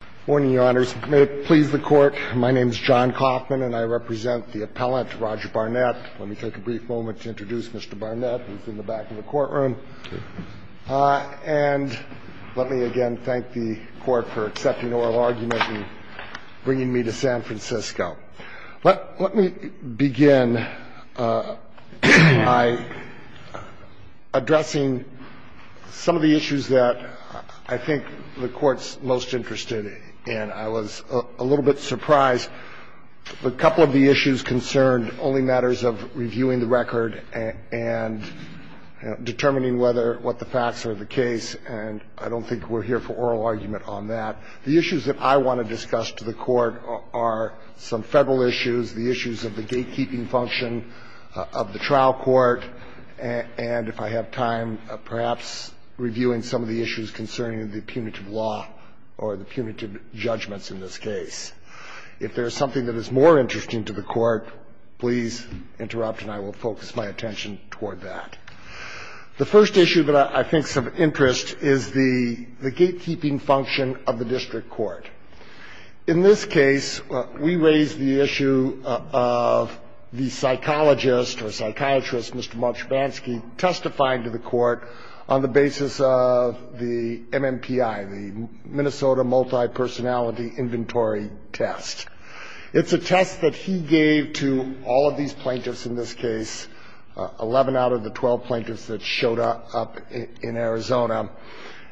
Good morning, Your Honors. May it please the Court, my name is John Coffman, and I represent the appellant, Roger Barnett. Let me take a brief moment to introduce Mr. Barnett, who's in the back of the courtroom. And let me again thank the Court for accepting oral argument and bringing me to San Francisco. Let me begin by addressing some of the issues that I think the Court's most interested in. I was a little bit surprised, a couple of the issues concerned only matters of reviewing the record and determining whether what the facts are of the case, and I don't think we're here for oral argument on that. The issues that I want to discuss to the Court are some Federal issues, the issues of the gatekeeping function of the trial court, and if I have time, perhaps reviewing some of the issues concerning the punitive law or the punitive judgments in this case. If there's something that is more interesting to the Court, please interrupt, and I will focus my attention toward that. The first issue that I think is of interest is the gatekeeping function of the district court. In this case, we raise the issue of the psychologist or psychiatrist, Mr. Marchivansky, testifying to the Court on the basis of the MMPI, the Minnesota Multipersonality Inventory Test. It's a test that he gave to all of these plaintiffs in this case, 11 out of the 12 plaintiffs that showed up in Arizona.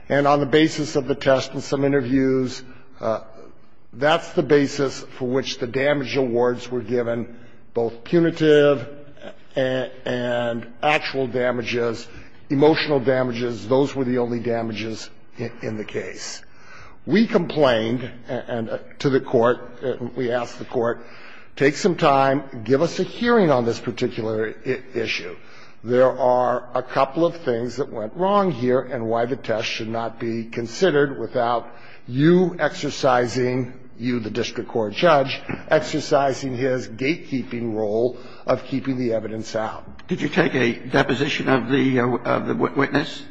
And on the basis of the test and some interviews, that's the basis for which the damage awards were given, both punitive and actual damages, emotional damages, those were the only damages in the case. We complained to the Court, we asked the Court, take some time, give us a hearing on this particular issue. There are a couple of things that went wrong here and why the test should not be considered without you exercising, you, the district court judge, exercising his gatekeeping role of keeping the evidence out. Did you take a deposition of the witness?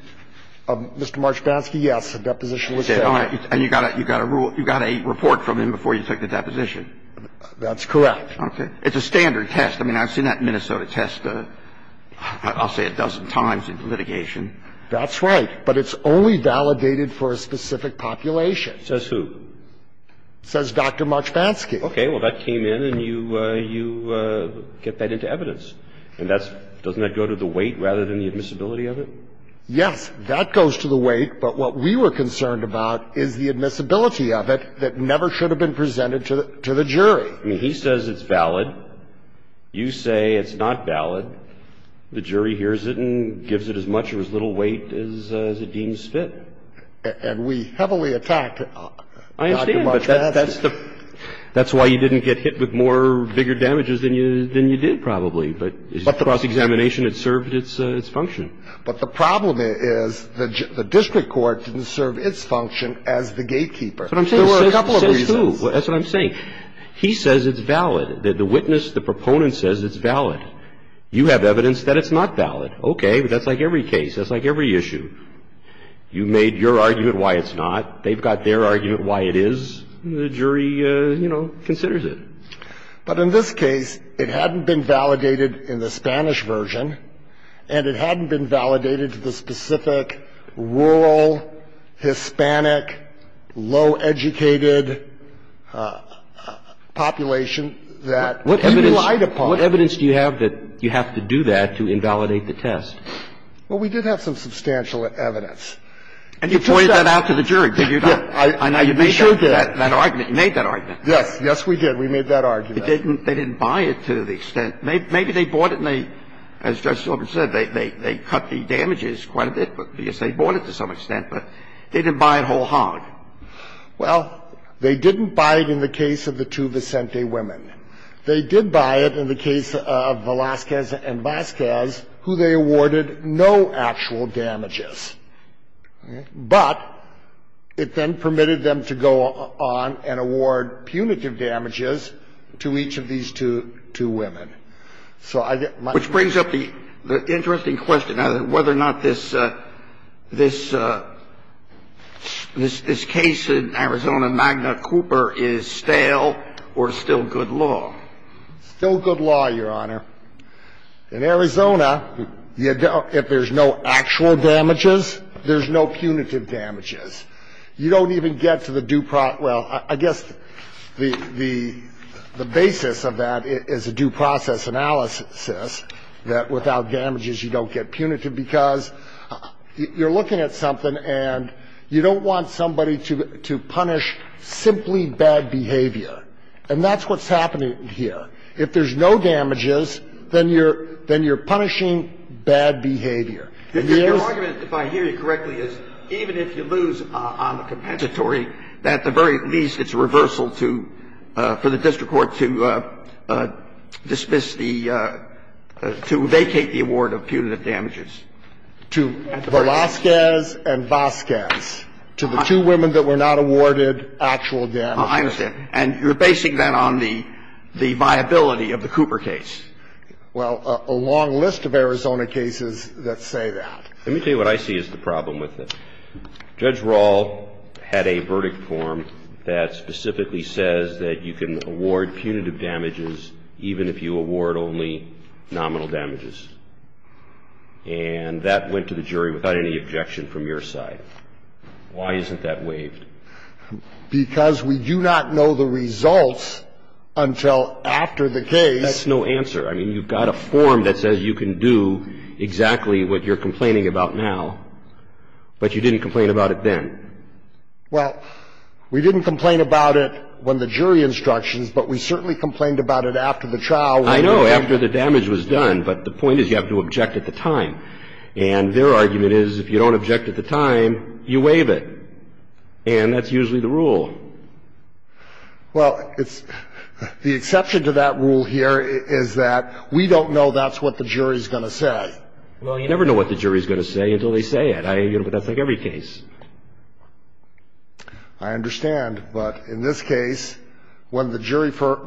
Mr. Marchivansky, yes, a deposition was taken. And you got a rule, you got a report from him before you took the deposition? That's correct. Okay. It's a standard test. I mean, I've seen that Minnesota test, I'll say, a dozen times in litigation. That's right. But it's only validated for a specific population. Says who? Says Dr. Marchivansky. Okay. Well, that came in and you get that into evidence. And that's, doesn't that go to the weight rather than the admissibility of it? Yes. That goes to the weight, but what we were concerned about is the admissibility of it that never should have been presented to the jury. I mean, he says it's valid. You say it's not valid. The jury hears it and gives it as much or as little weight as it deems fit. And we heavily attacked Dr. Marchivansky. I understand, but that's why you didn't get hit with more bigger damages than you did, probably. But cross-examination, it served its function. But the problem is the district court didn't serve its function as the gatekeeper. There were a couple of reasons. Says who? That's what I'm saying. He says it's valid. The witness, the proponent says it's valid. You have evidence that it's not valid. Okay. But that's like every case. That's like every issue. You made your argument why it's not. They've got their argument why it is. The jury, you know, considers it. But in this case, it hadn't been validated in the Spanish version, and it hadn't been validated to the specific rural, Hispanic, low-educated population that you relied upon. What evidence do you have that you have to do that to invalidate the test? Well, we did have some substantial evidence. And you pointed that out to the jury, did you not? I know you made that argument. You made that argument. Yes. Yes, we did. We made that argument. They didn't buy it to the extent. Maybe they bought it and they, as Judge Sorbonne said, they cut the damages quite a bit because they bought it to some extent, but they didn't buy it wholeheartedly. Well, they didn't buy it in the case of the two Vicente women. They did buy it in the case of Velazquez and Vazquez, who they awarded no actual damages. But it then permitted them to go on and award punitive damages to each of these two women. Which brings up the interesting question as to whether or not this case in Arizona, Magna Cooper, is stale or still good law. Still good law, Your Honor. In Arizona, if there's no actual damages, there's no punitive damages. You don't even get to the due process. Well, I guess the basis of that is a due process analysis that without damages you don't get punitive because you're looking at something and you don't want somebody to punish simply bad behavior. And that's what's happening here. If there's no damages, then you're punishing bad behavior. Your argument, if I hear you correctly, is even if you lose on the compensatory, at the very least it's a reversal to the district court to dismiss the to vacate the award of punitive damages. To Velazquez and Vazquez, to the two women that were not awarded actual damages. I understand. And you're basing that on the viability of the Cooper case. Well, a long list of Arizona cases that say that. Let me tell you what I see is the problem with it. Judge Rall had a verdict form that specifically says that you can award punitive damages even if you award only nominal damages. And that went to the jury without any objection from your side. Why isn't that waived? Because we do not know the results until after the case. That's no answer. I mean, you've got a form that says you can do exactly what you're complaining about now, but you didn't complain about it then. Well, we didn't complain about it when the jury instructions, but we certainly complained about it after the trial. I know, after the damage was done. But the point is you have to object at the time. And their argument is if you don't object at the time, you waive it. And that's usually the rule. Well, it's the exception to that rule here is that we don't know that's what the jury's going to say. Well, you never know what the jury's going to say until they say it. I mean, that's like every case. I understand. But in this case, when the jury for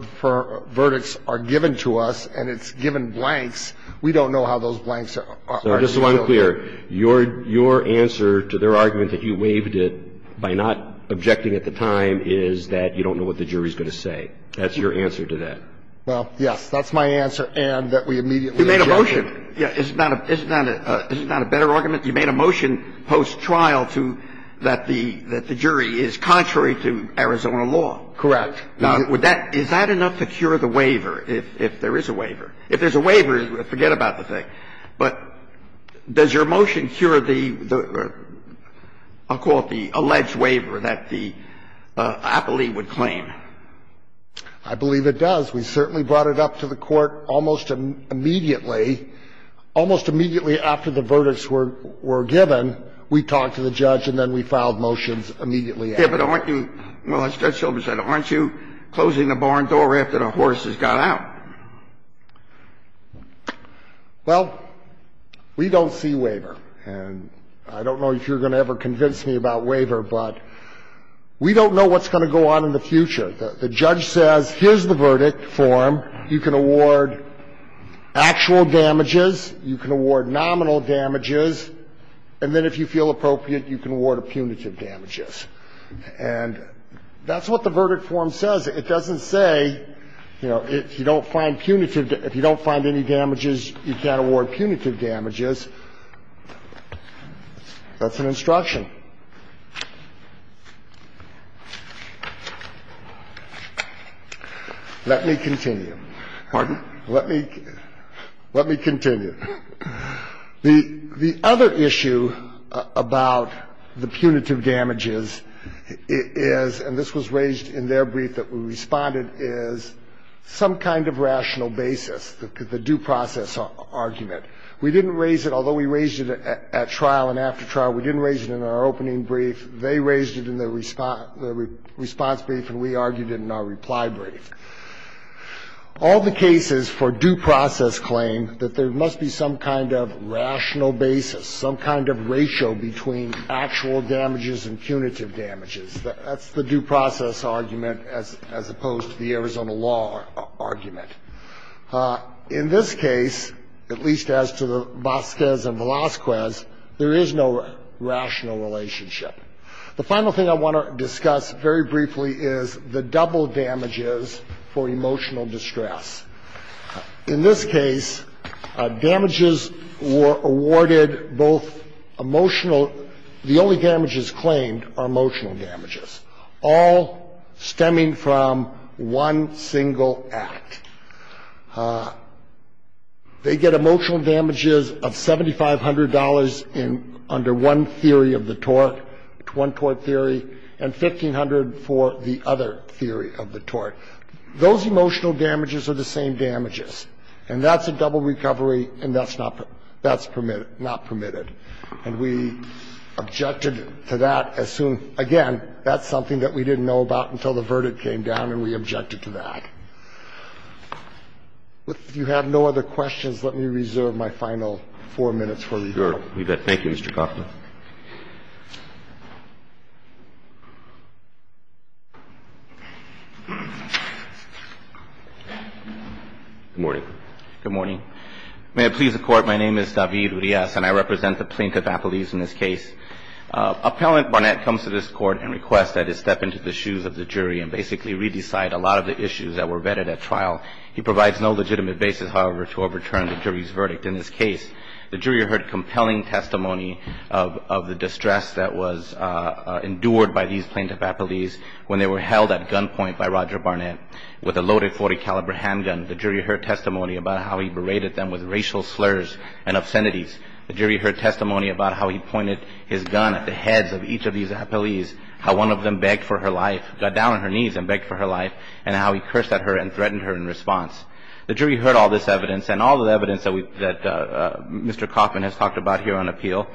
verdicts are given to us and it's given blanks, we don't know how those blanks are. So just so I'm clear, your answer to their argument that you waived it by not objecting at the time is that you don't know what the jury's going to say. That's your answer to that. Well, yes, that's my answer, and that we immediately object to it. You made a motion. Yeah. Isn't that a better argument? You made a motion post-trial that the jury is contrary to Arizona law. Correct. Now, is that enough to cure the waiver, if there is a waiver? If there's a waiver, forget about the thing. But does your motion cure the, I'll call it the alleged waiver that the appellee would claim? I believe it does. We certainly brought it up to the Court almost immediately. Almost immediately after the verdicts were given, we talked to the judge, and then we filed motions immediately after. Yeah, but aren't you — well, as Judge Silver said, aren't you closing the barn door after the horses got out? Well, we don't see waiver, and I don't know if you're going to ever convince me about waiver, but we don't know what's going to go on in the future. The judge says, here's the verdict form, you can award actual damages, you can award nominal damages, and then if you feel appropriate, you can award punitive damages. And that's what the verdict form says. It doesn't say, you know, if you don't find punitive — if you don't find any damages, you can't award punitive damages. That's an instruction. Let me continue. Pardon? Let me continue. The other issue about the punitive damages is, and this was raised in their brief that we responded, is some kind of rational basis, the due process argument. We didn't raise it — although we raised it at trial and after trial, we didn't raise it in our opening brief. They raised it in their response brief, and we argued it in our reply brief. All the cases for due process claim that there must be some kind of rational basis, some kind of ratio between actual damages and punitive damages. That's the due process argument as opposed to the Arizona law argument. In this case, at least as to the Vasquez and Velazquez, there is no rational relationship. The final thing I want to discuss very briefly is the double damages for emotional distress. In this case, damages were awarded both emotional — the only damages claimed are emotional damages. All stemming from one single act. They get emotional damages of $7,500 under one theory of the tort, one tort theory, and $1,500 for the other theory of the tort. Those emotional damages are the same damages, and that's a double recovery, and that's not permitted. And we objected to that as soon — again, that's something that we didn't know about until the verdict came down, and we objected to that. If you have no other questions, let me reserve my final four minutes for review. Roberts. Thank you, Mr. Kaufman. Good morning. Good morning. May it please the Court, my name is David Urias, and I represent the plaintiff-appellees in this case. Appellant Barnett comes to this Court and requests that I step into the shoes of the jury and basically re-decide a lot of the issues that were vetted at trial. He provides no legitimate basis, however, to overturn the jury's verdict in this case. The jury heard compelling testimony of the distress that was endured by these plaintiff-appellees when they were held at gunpoint by Roger Barnett with a loaded .40-caliber handgun. The jury heard testimony about how he berated them with racial slurs and obscenities. The jury heard testimony about how he pointed his gun at the heads of each of these appellees, how one of them begged for her life — got down on her knees and begged for her life, and how he cursed at her and threatened her in response. The jury heard all this evidence and all the evidence that we — that Mr. Kaufman has talked about here on appeal.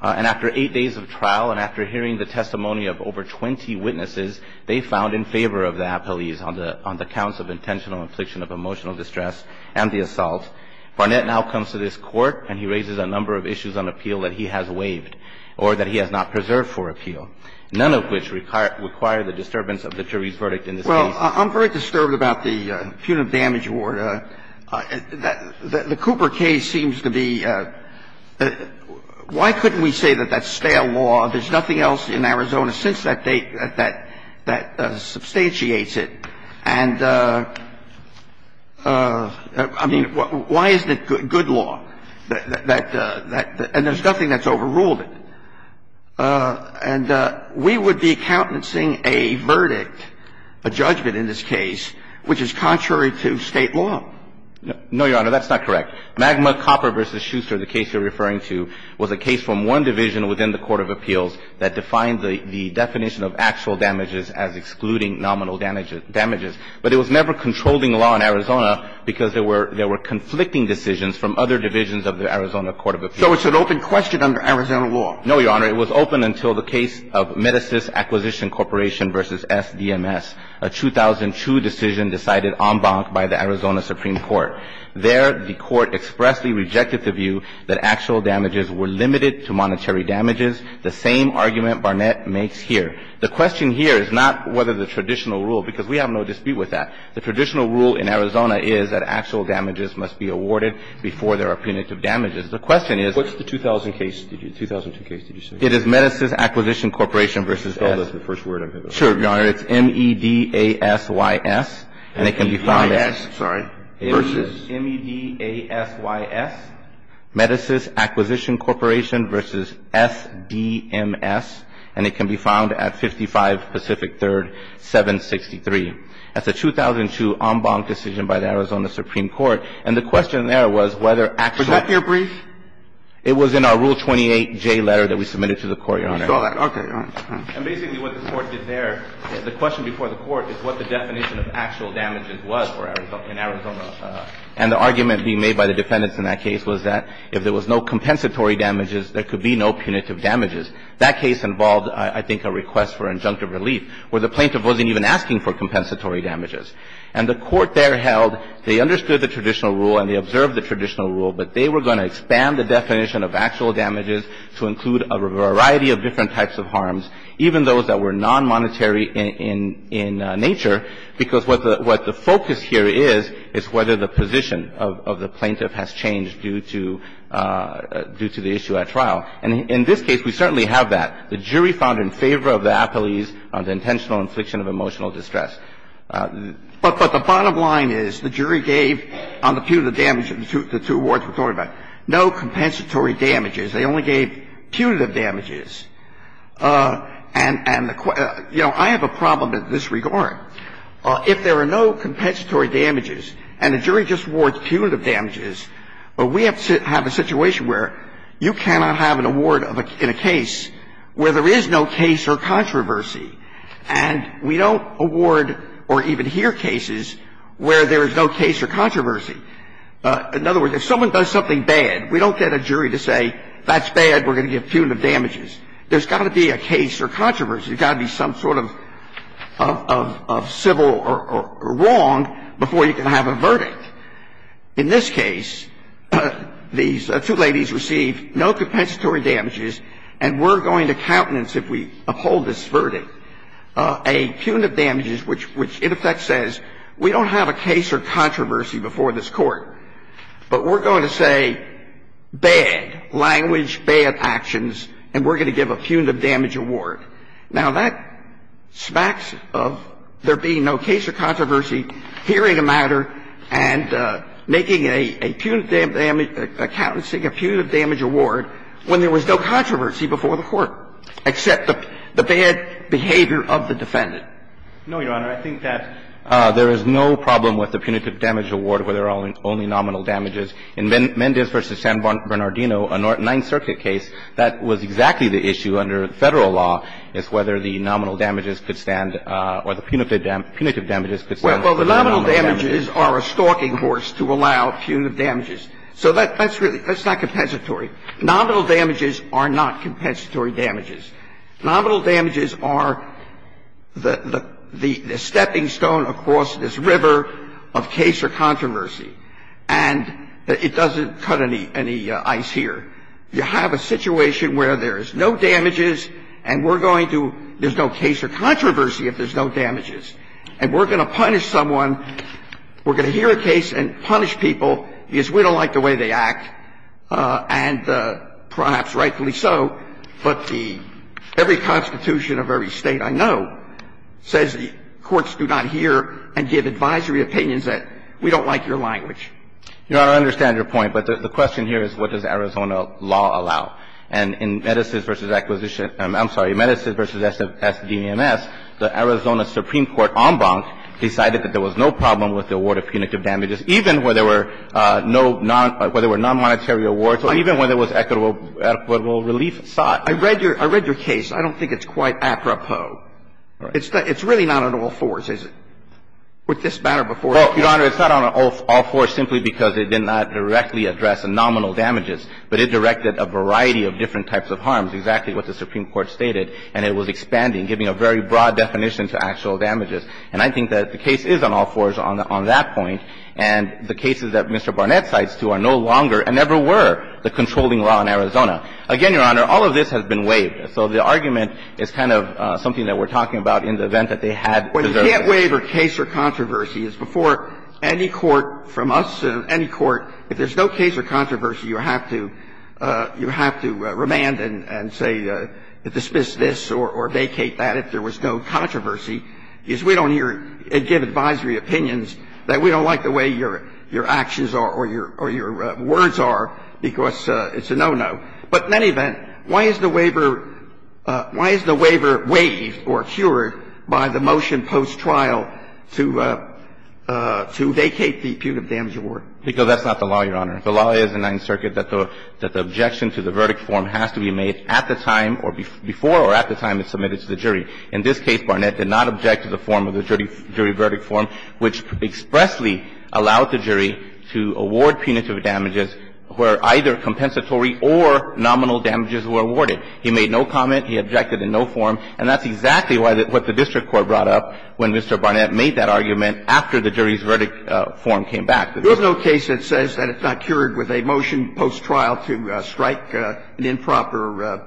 And after eight days of trial and after hearing the testimony of over 20 witnesses, they found in favor of the appellees on the counts of intentional infliction of emotional distress and the assault. Barnett now comes to this Court and he raises a number of issues on appeal that he has waived or that he has not preserved for appeal, none of which require the disturbance of the jury's verdict in this case. I'm very disturbed about the punitive damage award. The Cooper case seems to be — why couldn't we say that that's stale law, there's nothing else in Arizona since that date that substantiates it, and, I mean, why isn't it good law, that — and there's nothing that's overruled it? And we would be countencing a verdict, a judgment in this case, which is contrary to State law. No, Your Honor, that's not correct. Magma Copper v. Schuster, the case you're referring to, was a case from one division within the Court of Appeals that defined the definition of actual damages as excluding nominal damages. But it was never controlling law in Arizona because there were — there were conflicting decisions from other divisions of the Arizona Court of Appeals. So it's an open question under Arizona law. No, Your Honor, it was open until the case of Metasys Acquisition Corporation v. SDMS, a 2002 decision decided en banc by the Arizona Supreme Court. There, the Court expressly rejected the view that actual damages were limited to monetary damages, the same argument Barnett makes here. The question here is not whether the traditional rule — because we have no dispute with that. The traditional rule in Arizona is that actual damages must be awarded before there are punitive damages. The question is — Kennedy, did you say 2002? 2002 case, did you say? It is Metasys Acquisition Corporation v. S. Tell us the first word of it. Sure, Your Honor. It's M-E-D-A-S-Y-S. And it can be found at — M-E-D-A-S — sorry. Versus. M-E-D-A-S-Y-S, Metasys Acquisition Corporation v. S-D-M-S. And it can be found at 55 Pacific Third 763. That's a 2002 en banc decision by the Arizona Supreme Court. And the question there was whether actual — Was that here brief? It was in our Rule 28J letter that we submitted to the Court, Your Honor. We saw that. Okay. And basically what the Court did there, the question before the Court is what the definition of actual damages was for Arizona — in Arizona. And the argument being made by the defendants in that case was that if there was no compensatory damages, there could be no punitive damages. That case involved, I think, a request for injunctive relief where the plaintiff wasn't even asking for compensatory damages. And the Court there held they understood the traditional rule and they observed the traditional rule, but they were going to expand the definition of actual damages to include a variety of different types of harms, even those that were nonmonetary in — in nature, because what the — what the focus here is, is whether the position of — of the plaintiff has changed due to — due to the issue at trial. And in this case, we certainly have that. The jury found in favor of the apolies on the intentional infliction of emotional distress. But the bottom line is the jury gave, on the punitive damage of the two — the two awards we're talking about, no compensatory damages. They only gave punitive damages. And — and the — you know, I have a problem in this regard. If there are no compensatory damages and the jury just awards punitive damages, we have to have a situation where you cannot have an award of a — in a case where there is no case or controversy. And we don't award or even hear cases where there is no case or controversy. In other words, if someone does something bad, we don't get a jury to say, that's bad, we're going to give punitive damages. There's got to be a case or controversy. There's got to be some sort of — of civil or — or wrong before you can have a verdict. In this case, these two ladies received no compensatory damages, and we're going to countenance if we uphold this verdict. A punitive damages, which — which, in effect, says, we don't have a case or controversy before this Court, but we're going to say, bad, language, bad actions, and we're going to give a punitive damage award. Now, that smacks of there being no case or controversy, hearing a matter, and making a — a punitive — accountancing a punitive damage award when there was no controversy before the Court, except the — the bad behavior of the defendant. No, Your Honor. I think that there is no problem with the punitive damage award where there are only nominal damages. In Mendez v. San Bernardino, a Ninth Circuit case, that was exactly the issue under Federal law, is whether the nominal damages could stand or the punitive damages could stand. Well, the nominal damages are a stalking horse to allow punitive damages. So that's really — that's not compensatory. Nominal damages are not compensatory damages. Nominal damages are the — the stepping stone across this river of case or controversy. And it doesn't cut any — any ice here. You have a situation where there is no damages, and we're going to — there's no case or controversy if there's no damages. And we're going to punish someone. We're going to hear a case and punish people because we don't like the way they act. And perhaps rightfully so, but the — every constitution of every State I know says the courts do not hear and give advisory opinions that we don't like your language. Your Honor, I understand your point, but the question here is what does Arizona law allow. And in Mendez v. Acquisition — I'm sorry, Mendez v. S.D.E.M.S., the Arizona Supreme Court en banc decided that there was no problem with the award of punitive damages even when there were no non — when there were nonmonetary awards or even when there was equitable — equitable relief sought. I read your — I read your case. I don't think it's quite apropos. It's really not on all fours, is it? Would this matter before a case? Well, Your Honor, it's not on all fours simply because it did not directly address the nominal damages, but it directed a variety of different types of harms, exactly what the Supreme Court stated, and it was expanding, giving a very broad definition to actual damages. And I think that the case is on all fours on that point, and the cases that Mr. Barnett cites, too, are no longer and never were the controlling law in Arizona. Again, Your Honor, all of this has been waived. So the argument is kind of something that we're talking about in the event that they had deserved it. Well, you can't waive a case or controversy. It's before any court from us, any court, if there's no case or controversy, you have to — you have to remand and say, dismiss this or vacate that if there was no controversy, because we don't hear and give advisory opinions that we don't like the way your actions are or your words are, because it's a no-no. But in any event, why is the waiver — why is the waiver waived or cured by the motion post-trial to — to vacate the punitive damage award? Because that's not the law, Your Honor. The law is in Ninth Circuit that the — that the objection to the verdict form has to be made at the time or — before or at the time it's submitted to the jury. In this case, Barnett did not object to the form of the jury verdict form, which expressly allowed the jury to award punitive damages where either compensatory or nominal damages were awarded. He made no comment. He objected in no form. And that's exactly why the — what the district court brought up when Mr. Barnett made that argument after the jury's verdict form came back. There's no case that says that it's not cured with a motion post-trial to strike an improper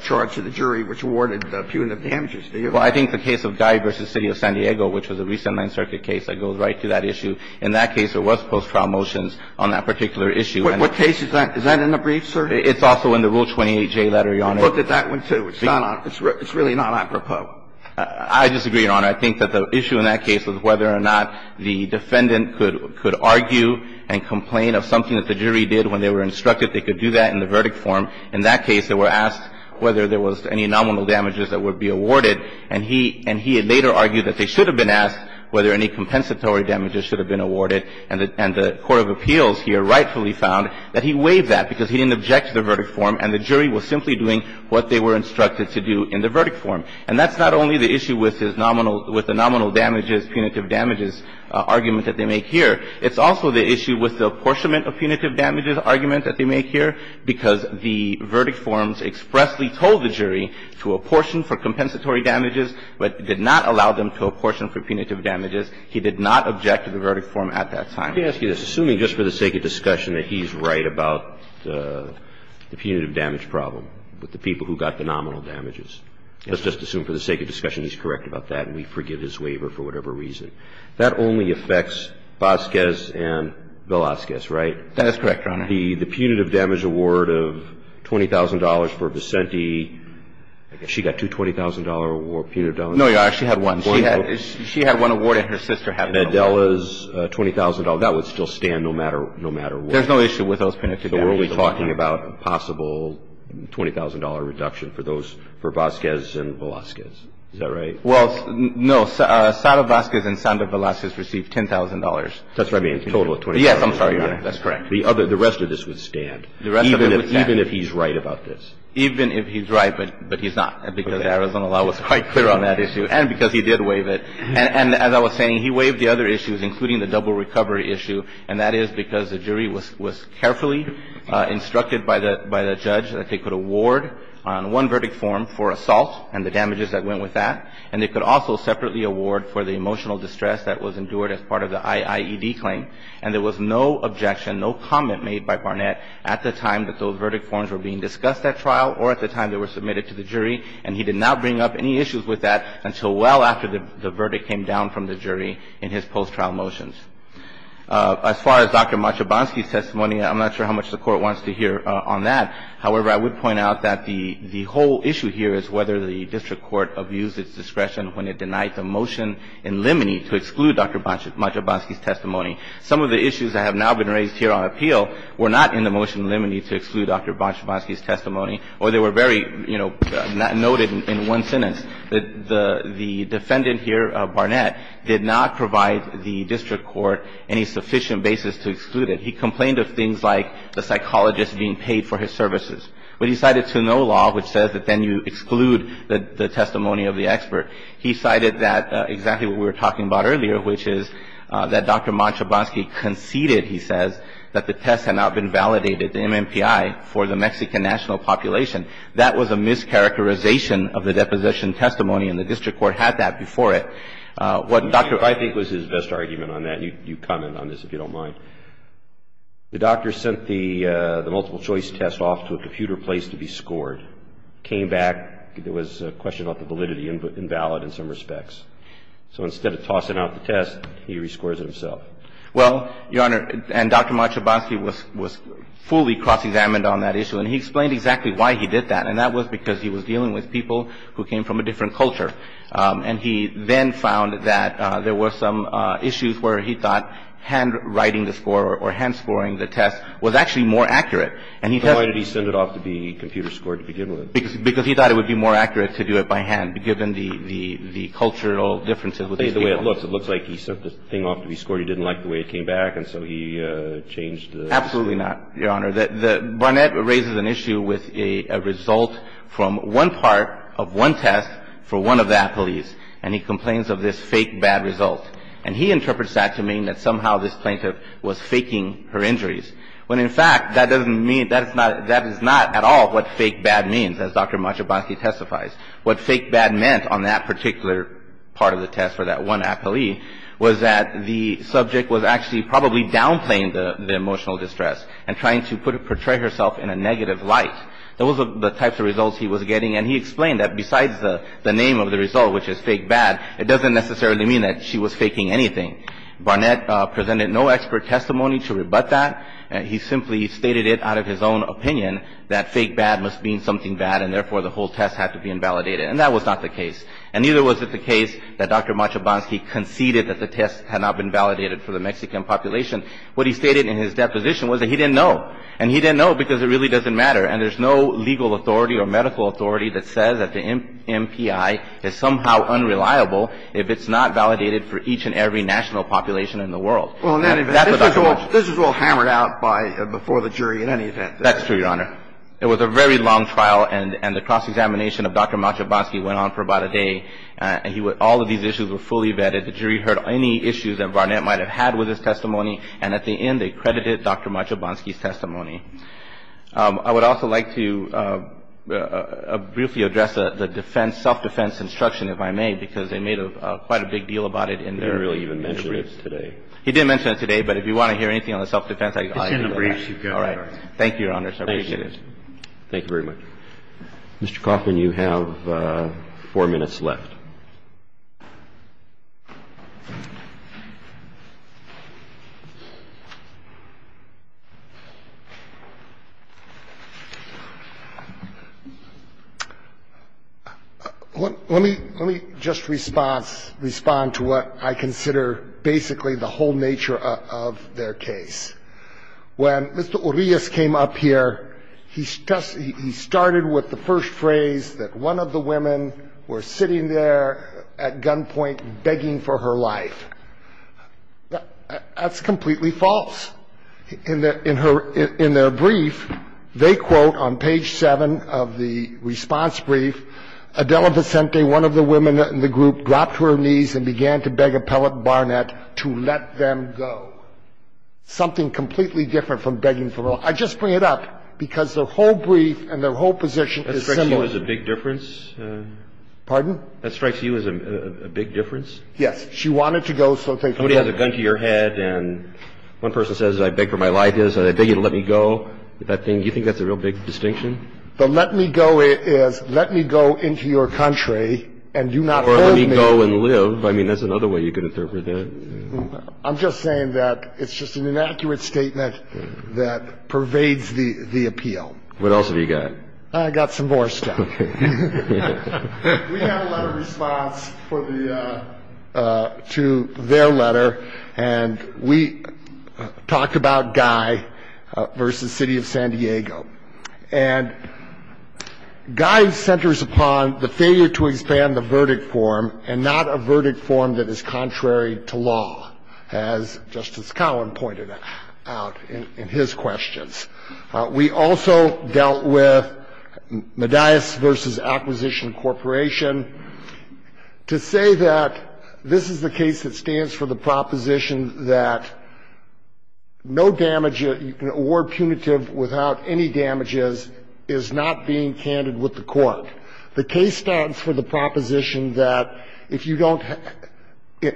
charge to the jury, which awarded punitive damages, do you? Well, I think the case of Guy v. City of San Diego, which was a recent Ninth Circuit case that goes right to that issue. In that case, there was post-trial motions on that particular issue. What case is that? Is that in the brief, sir? It's also in the Rule 28J letter, Your Honor. Look at that one, too. It's not on — it's really not apropos. I disagree, Your Honor. I think that the issue in that case was whether or not the defendant could — could argue and complain of something that the jury did when they were instructed that they could do that in the verdict form. In that case, they were asked whether there was any nominal damages that would be awarded. And he — and he had later argued that they should have been asked whether any compensatory damages should have been awarded. And the — and the court of appeals here rightfully found that he waived that because he didn't object to the verdict form, and the jury was simply doing what they were instructed to do in the verdict form. And that's not only the issue with his nominal — with the nominal damages, punitive damages argument that they make here. It's also the issue with the apportionment of punitive damages argument that they make here, because the verdict forms expressly told the jury to apportion for compensatory damages, but did not allow them to apportion for punitive damages. He did not object to the verdict form at that time. Roberts. Let me ask you this. Assuming, just for the sake of discussion, that he's right about the punitive damage problem with the people who got the nominal damages, let's just assume for the sake of discussion he's correct about that and we forgive his waiver for whatever reason. That only affects Vasquez and Velazquez, right? That is correct, Your Honor. The punitive damage award of $20,000 for Vicente, she got two $20,000 award — punitive damages. No, Your Honor. She had one. She had — she had one award and her sister had one award. Medela's $20,000, that would still stand no matter — no matter what. There's no issue with those punitive damages. So we're only talking about a possible $20,000 reduction for those — for Vasquez and Velazquez. Is that right? Well, no. Sandoz Vasquez and Sandoz Velazquez received $10,000. That's what I mean, a total of $20,000. Yes, I'm sorry, Your Honor. That's correct. The other — the rest of this would stand, even if he's right about this. Even if he's right, but he's not, because Arizona law was quite clear on that issue and because he did waive it. And as I was saying, he waived the other issues, including the double recovery issue, and that is because the jury was carefully instructed by the judge that they could award on one verdict form for assault and the damages that went with that, and they could also separately award for the emotional distress that was endured as part of the IIED claim. And there was no objection, no comment made by Barnett at the time that those verdict forms were being discussed at trial or at the time they were submitted to the jury, and he did not bring up any issues with that until well after the verdict came down from the jury in his post-trial motions. As far as Dr. Machabonsky's testimony, I'm not sure how much the Court wants to hear on that. The Court abused its discretion when it denied the motion in limine to exclude Dr. Machabonsky's testimony. Some of the issues that have now been raised here on appeal were not in the motion in limine to exclude Dr. Machabonsky's testimony, or they were very, you know, not noted in one sentence. The defendant here, Barnett, did not provide the district court any sufficient basis to exclude it. He complained of things like the psychologist being paid for his services. But he cited Sunolaw, which says that then you exclude the testimony of the expert. He cited that, exactly what we were talking about earlier, which is that Dr. Machabonsky conceded, he says, that the test had not been validated, the MMPI, for the Mexican national population. That was a mischaracterization of the deposition testimony, and the district court had that before it. What Dr. I think was his best argument on that. You comment on this, if you don't mind. The doctor sent the multiple choice test off to a computer place to be scored, came back, there was a question about the validity invalid in some respects. So instead of tossing out the test, he rescores it himself. Well, Your Honor, and Dr. Machabonsky was fully cross-examined on that issue, and he explained exactly why he did that, and that was because he was dealing with people who came from a different culture. And he then found that there were some issues where he thought handwriting the score or hand-scoring the test was actually more accurate. And he tested the computer score to begin with. Because he thought it would be more accurate to do it by hand, given the cultural differences with these people. It looks like he sent the thing off to be scored. He didn't like the way it came back, and so he changed the score. Absolutely not, Your Honor. Barnett raises an issue with a result from one part of one test for one of the athletes, and he complains of this fake bad result. And he interprets that to mean that somehow this plaintiff was faking her injuries, when in fact, that doesn't mean that is not at all what fake bad means, as Dr. Machabonsky testifies. What fake bad meant on that particular part of the test for that one athlete was that the subject was actually probably downplaying the emotional distress and trying to put or portray herself in a negative light. Those were the types of results he was getting. And he explained that besides the name of the result, which is fake bad, it doesn't necessarily mean that she was faking anything. Barnett presented no expert testimony to rebut that. He simply stated it out of his own opinion that fake bad must mean something bad, and therefore, the whole test had to be invalidated. And that was not the case. And neither was it the case that Dr. Machabonsky conceded that the test had not been validated for the Mexican population. What he stated in his deposition was that he didn't know. And he didn't know because it really doesn't matter. And there's no legal authority or medical authority that says that the MPI is somehow unreliable if it's not validated for each and every national population in the world. And that's what Dr. Machabonsky said. This was all hammered out before the jury in any event. That's true, Your Honor. It was a very long trial, and the cross-examination of Dr. Machabonsky went on for about a day, and all of these issues were fully vetted. The jury heard any issues that Barnett might have had with his testimony, and at the end, they credited Dr. Machabonsky's testimony. I would also like to briefly address the defense, self-defense instruction, if I may, because they made quite a big deal about it in their briefs. They didn't really even mention it today. He didn't mention it today, but if you want to hear anything on the self-defense, I can do that. It's in the briefs you've got, Your Honor. Thank you, Your Honor. I appreciate it. Thank you very much. Mr. Kaufman, you have four minutes left. Let me just respond to what I consider basically the whole nature of their case. When Mr. Urias came up here, he started with the first phrase that one of the women was sitting there at gunpoint begging for her life. That's completely false. In their brief, they quote on page 7 of the response brief, Adela Vicente, one of the women in the group, dropped to her knees and began to beg Appellant Barnett to let them go, something completely different from begging for her life. I just bring it up because their whole brief and their whole position is similar. That strikes you as a big difference? Pardon? That strikes you as a big difference? Yes. She wanted to go, so they could let her go. Somebody has a gun to your head and one person says, I beg for my life. They say, I beg you to let me go. Do you think that's a real big distinction? The let me go is, let me go into your country and you not hold me. Or let me go and live. I mean, that's another way you could interpret that. I'm just saying that it's just an inaccurate statement that pervades the appeal. What else have you got? I've got some more stuff. We have a letter of response to their letter. And we talked about Guy versus City of San Diego. And Guy centers upon the failure to expand the verdict form and not a verdict form that is contrary to law, as Justice Cowan pointed out in his questions. We also dealt with Medias versus Acquisition Corporation. To say that this is the case that stands for the proposition that no damage, you can award punitive without any damages is not being candid with the court. The case stands for the proposition that if you don't,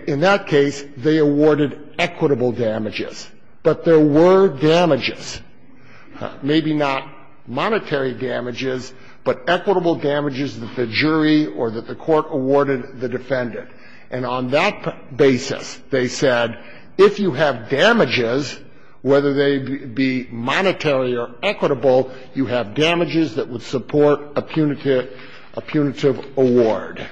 in that case, they awarded equitable damages. But there were damages, maybe not monetary damages, but equitable damages that the jury or that the court awarded the defendant. And on that basis, they said, if you have damages, whether they be monetary or equitable, you have damages that would support a punitive award.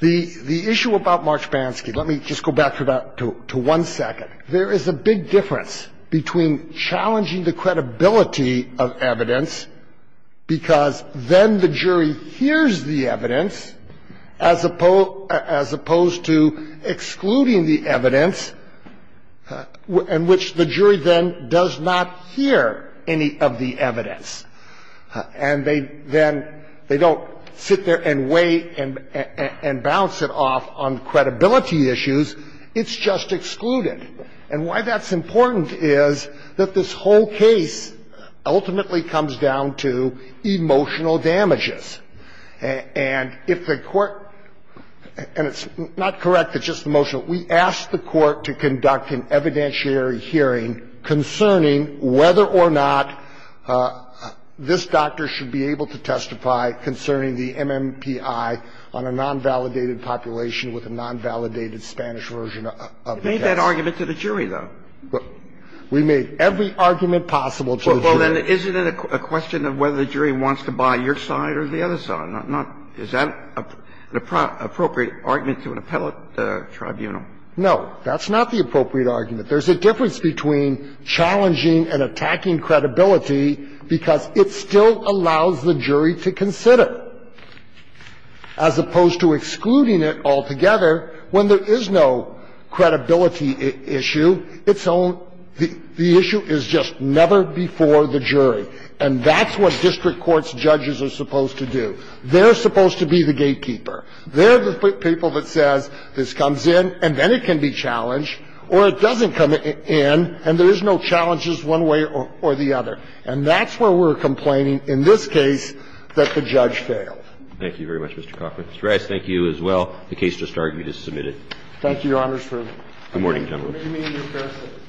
The issue about Marchbansky, let me just go back to that, to one second. There is a big difference between challenging the credibility of evidence, because then the jury hears the evidence, as opposed to excluding the evidence in which the jury then does not hear any of the evidence. And they then, they don't sit there and weigh and bounce it off on credibility issues, it's just excluded. And why that's important is that this whole case ultimately comes down to emotional damages. And if the court, and it's not correct, it's just emotional, we ask the court to conduct an evidentiary hearing concerning whether or not this doctor should be able to testify concerning the MMPI on a non-validated population with a non-validated Spanish version of the text. Sotomayor, we made that argument to the jury, though. We made every argument possible to the jury. Well, then, isn't it a question of whether the jury wants to buy your side or the other side? Not, is that an appropriate argument to an appellate tribunal? No, that's not the appropriate argument. There's a difference between challenging and attacking credibility because it still allows the jury to consider, as opposed to excluding it altogether when there is no credibility issue. It's own, the issue is just never before the jury. And that's what district courts' judges are supposed to do. They're supposed to be the gatekeeper. They're the people that says this comes in and then it can be challenged or it doesn't come in and there is no challenges one way or the other. And that's where we're complaining in this case that the judge failed. Thank you very much, Mr. Coffman. Mr. Reyes, thank you as well. The case just argued is submitted. Thank you, Your Honors. Good morning, gentlemen. Good morning, Mr. Coffman.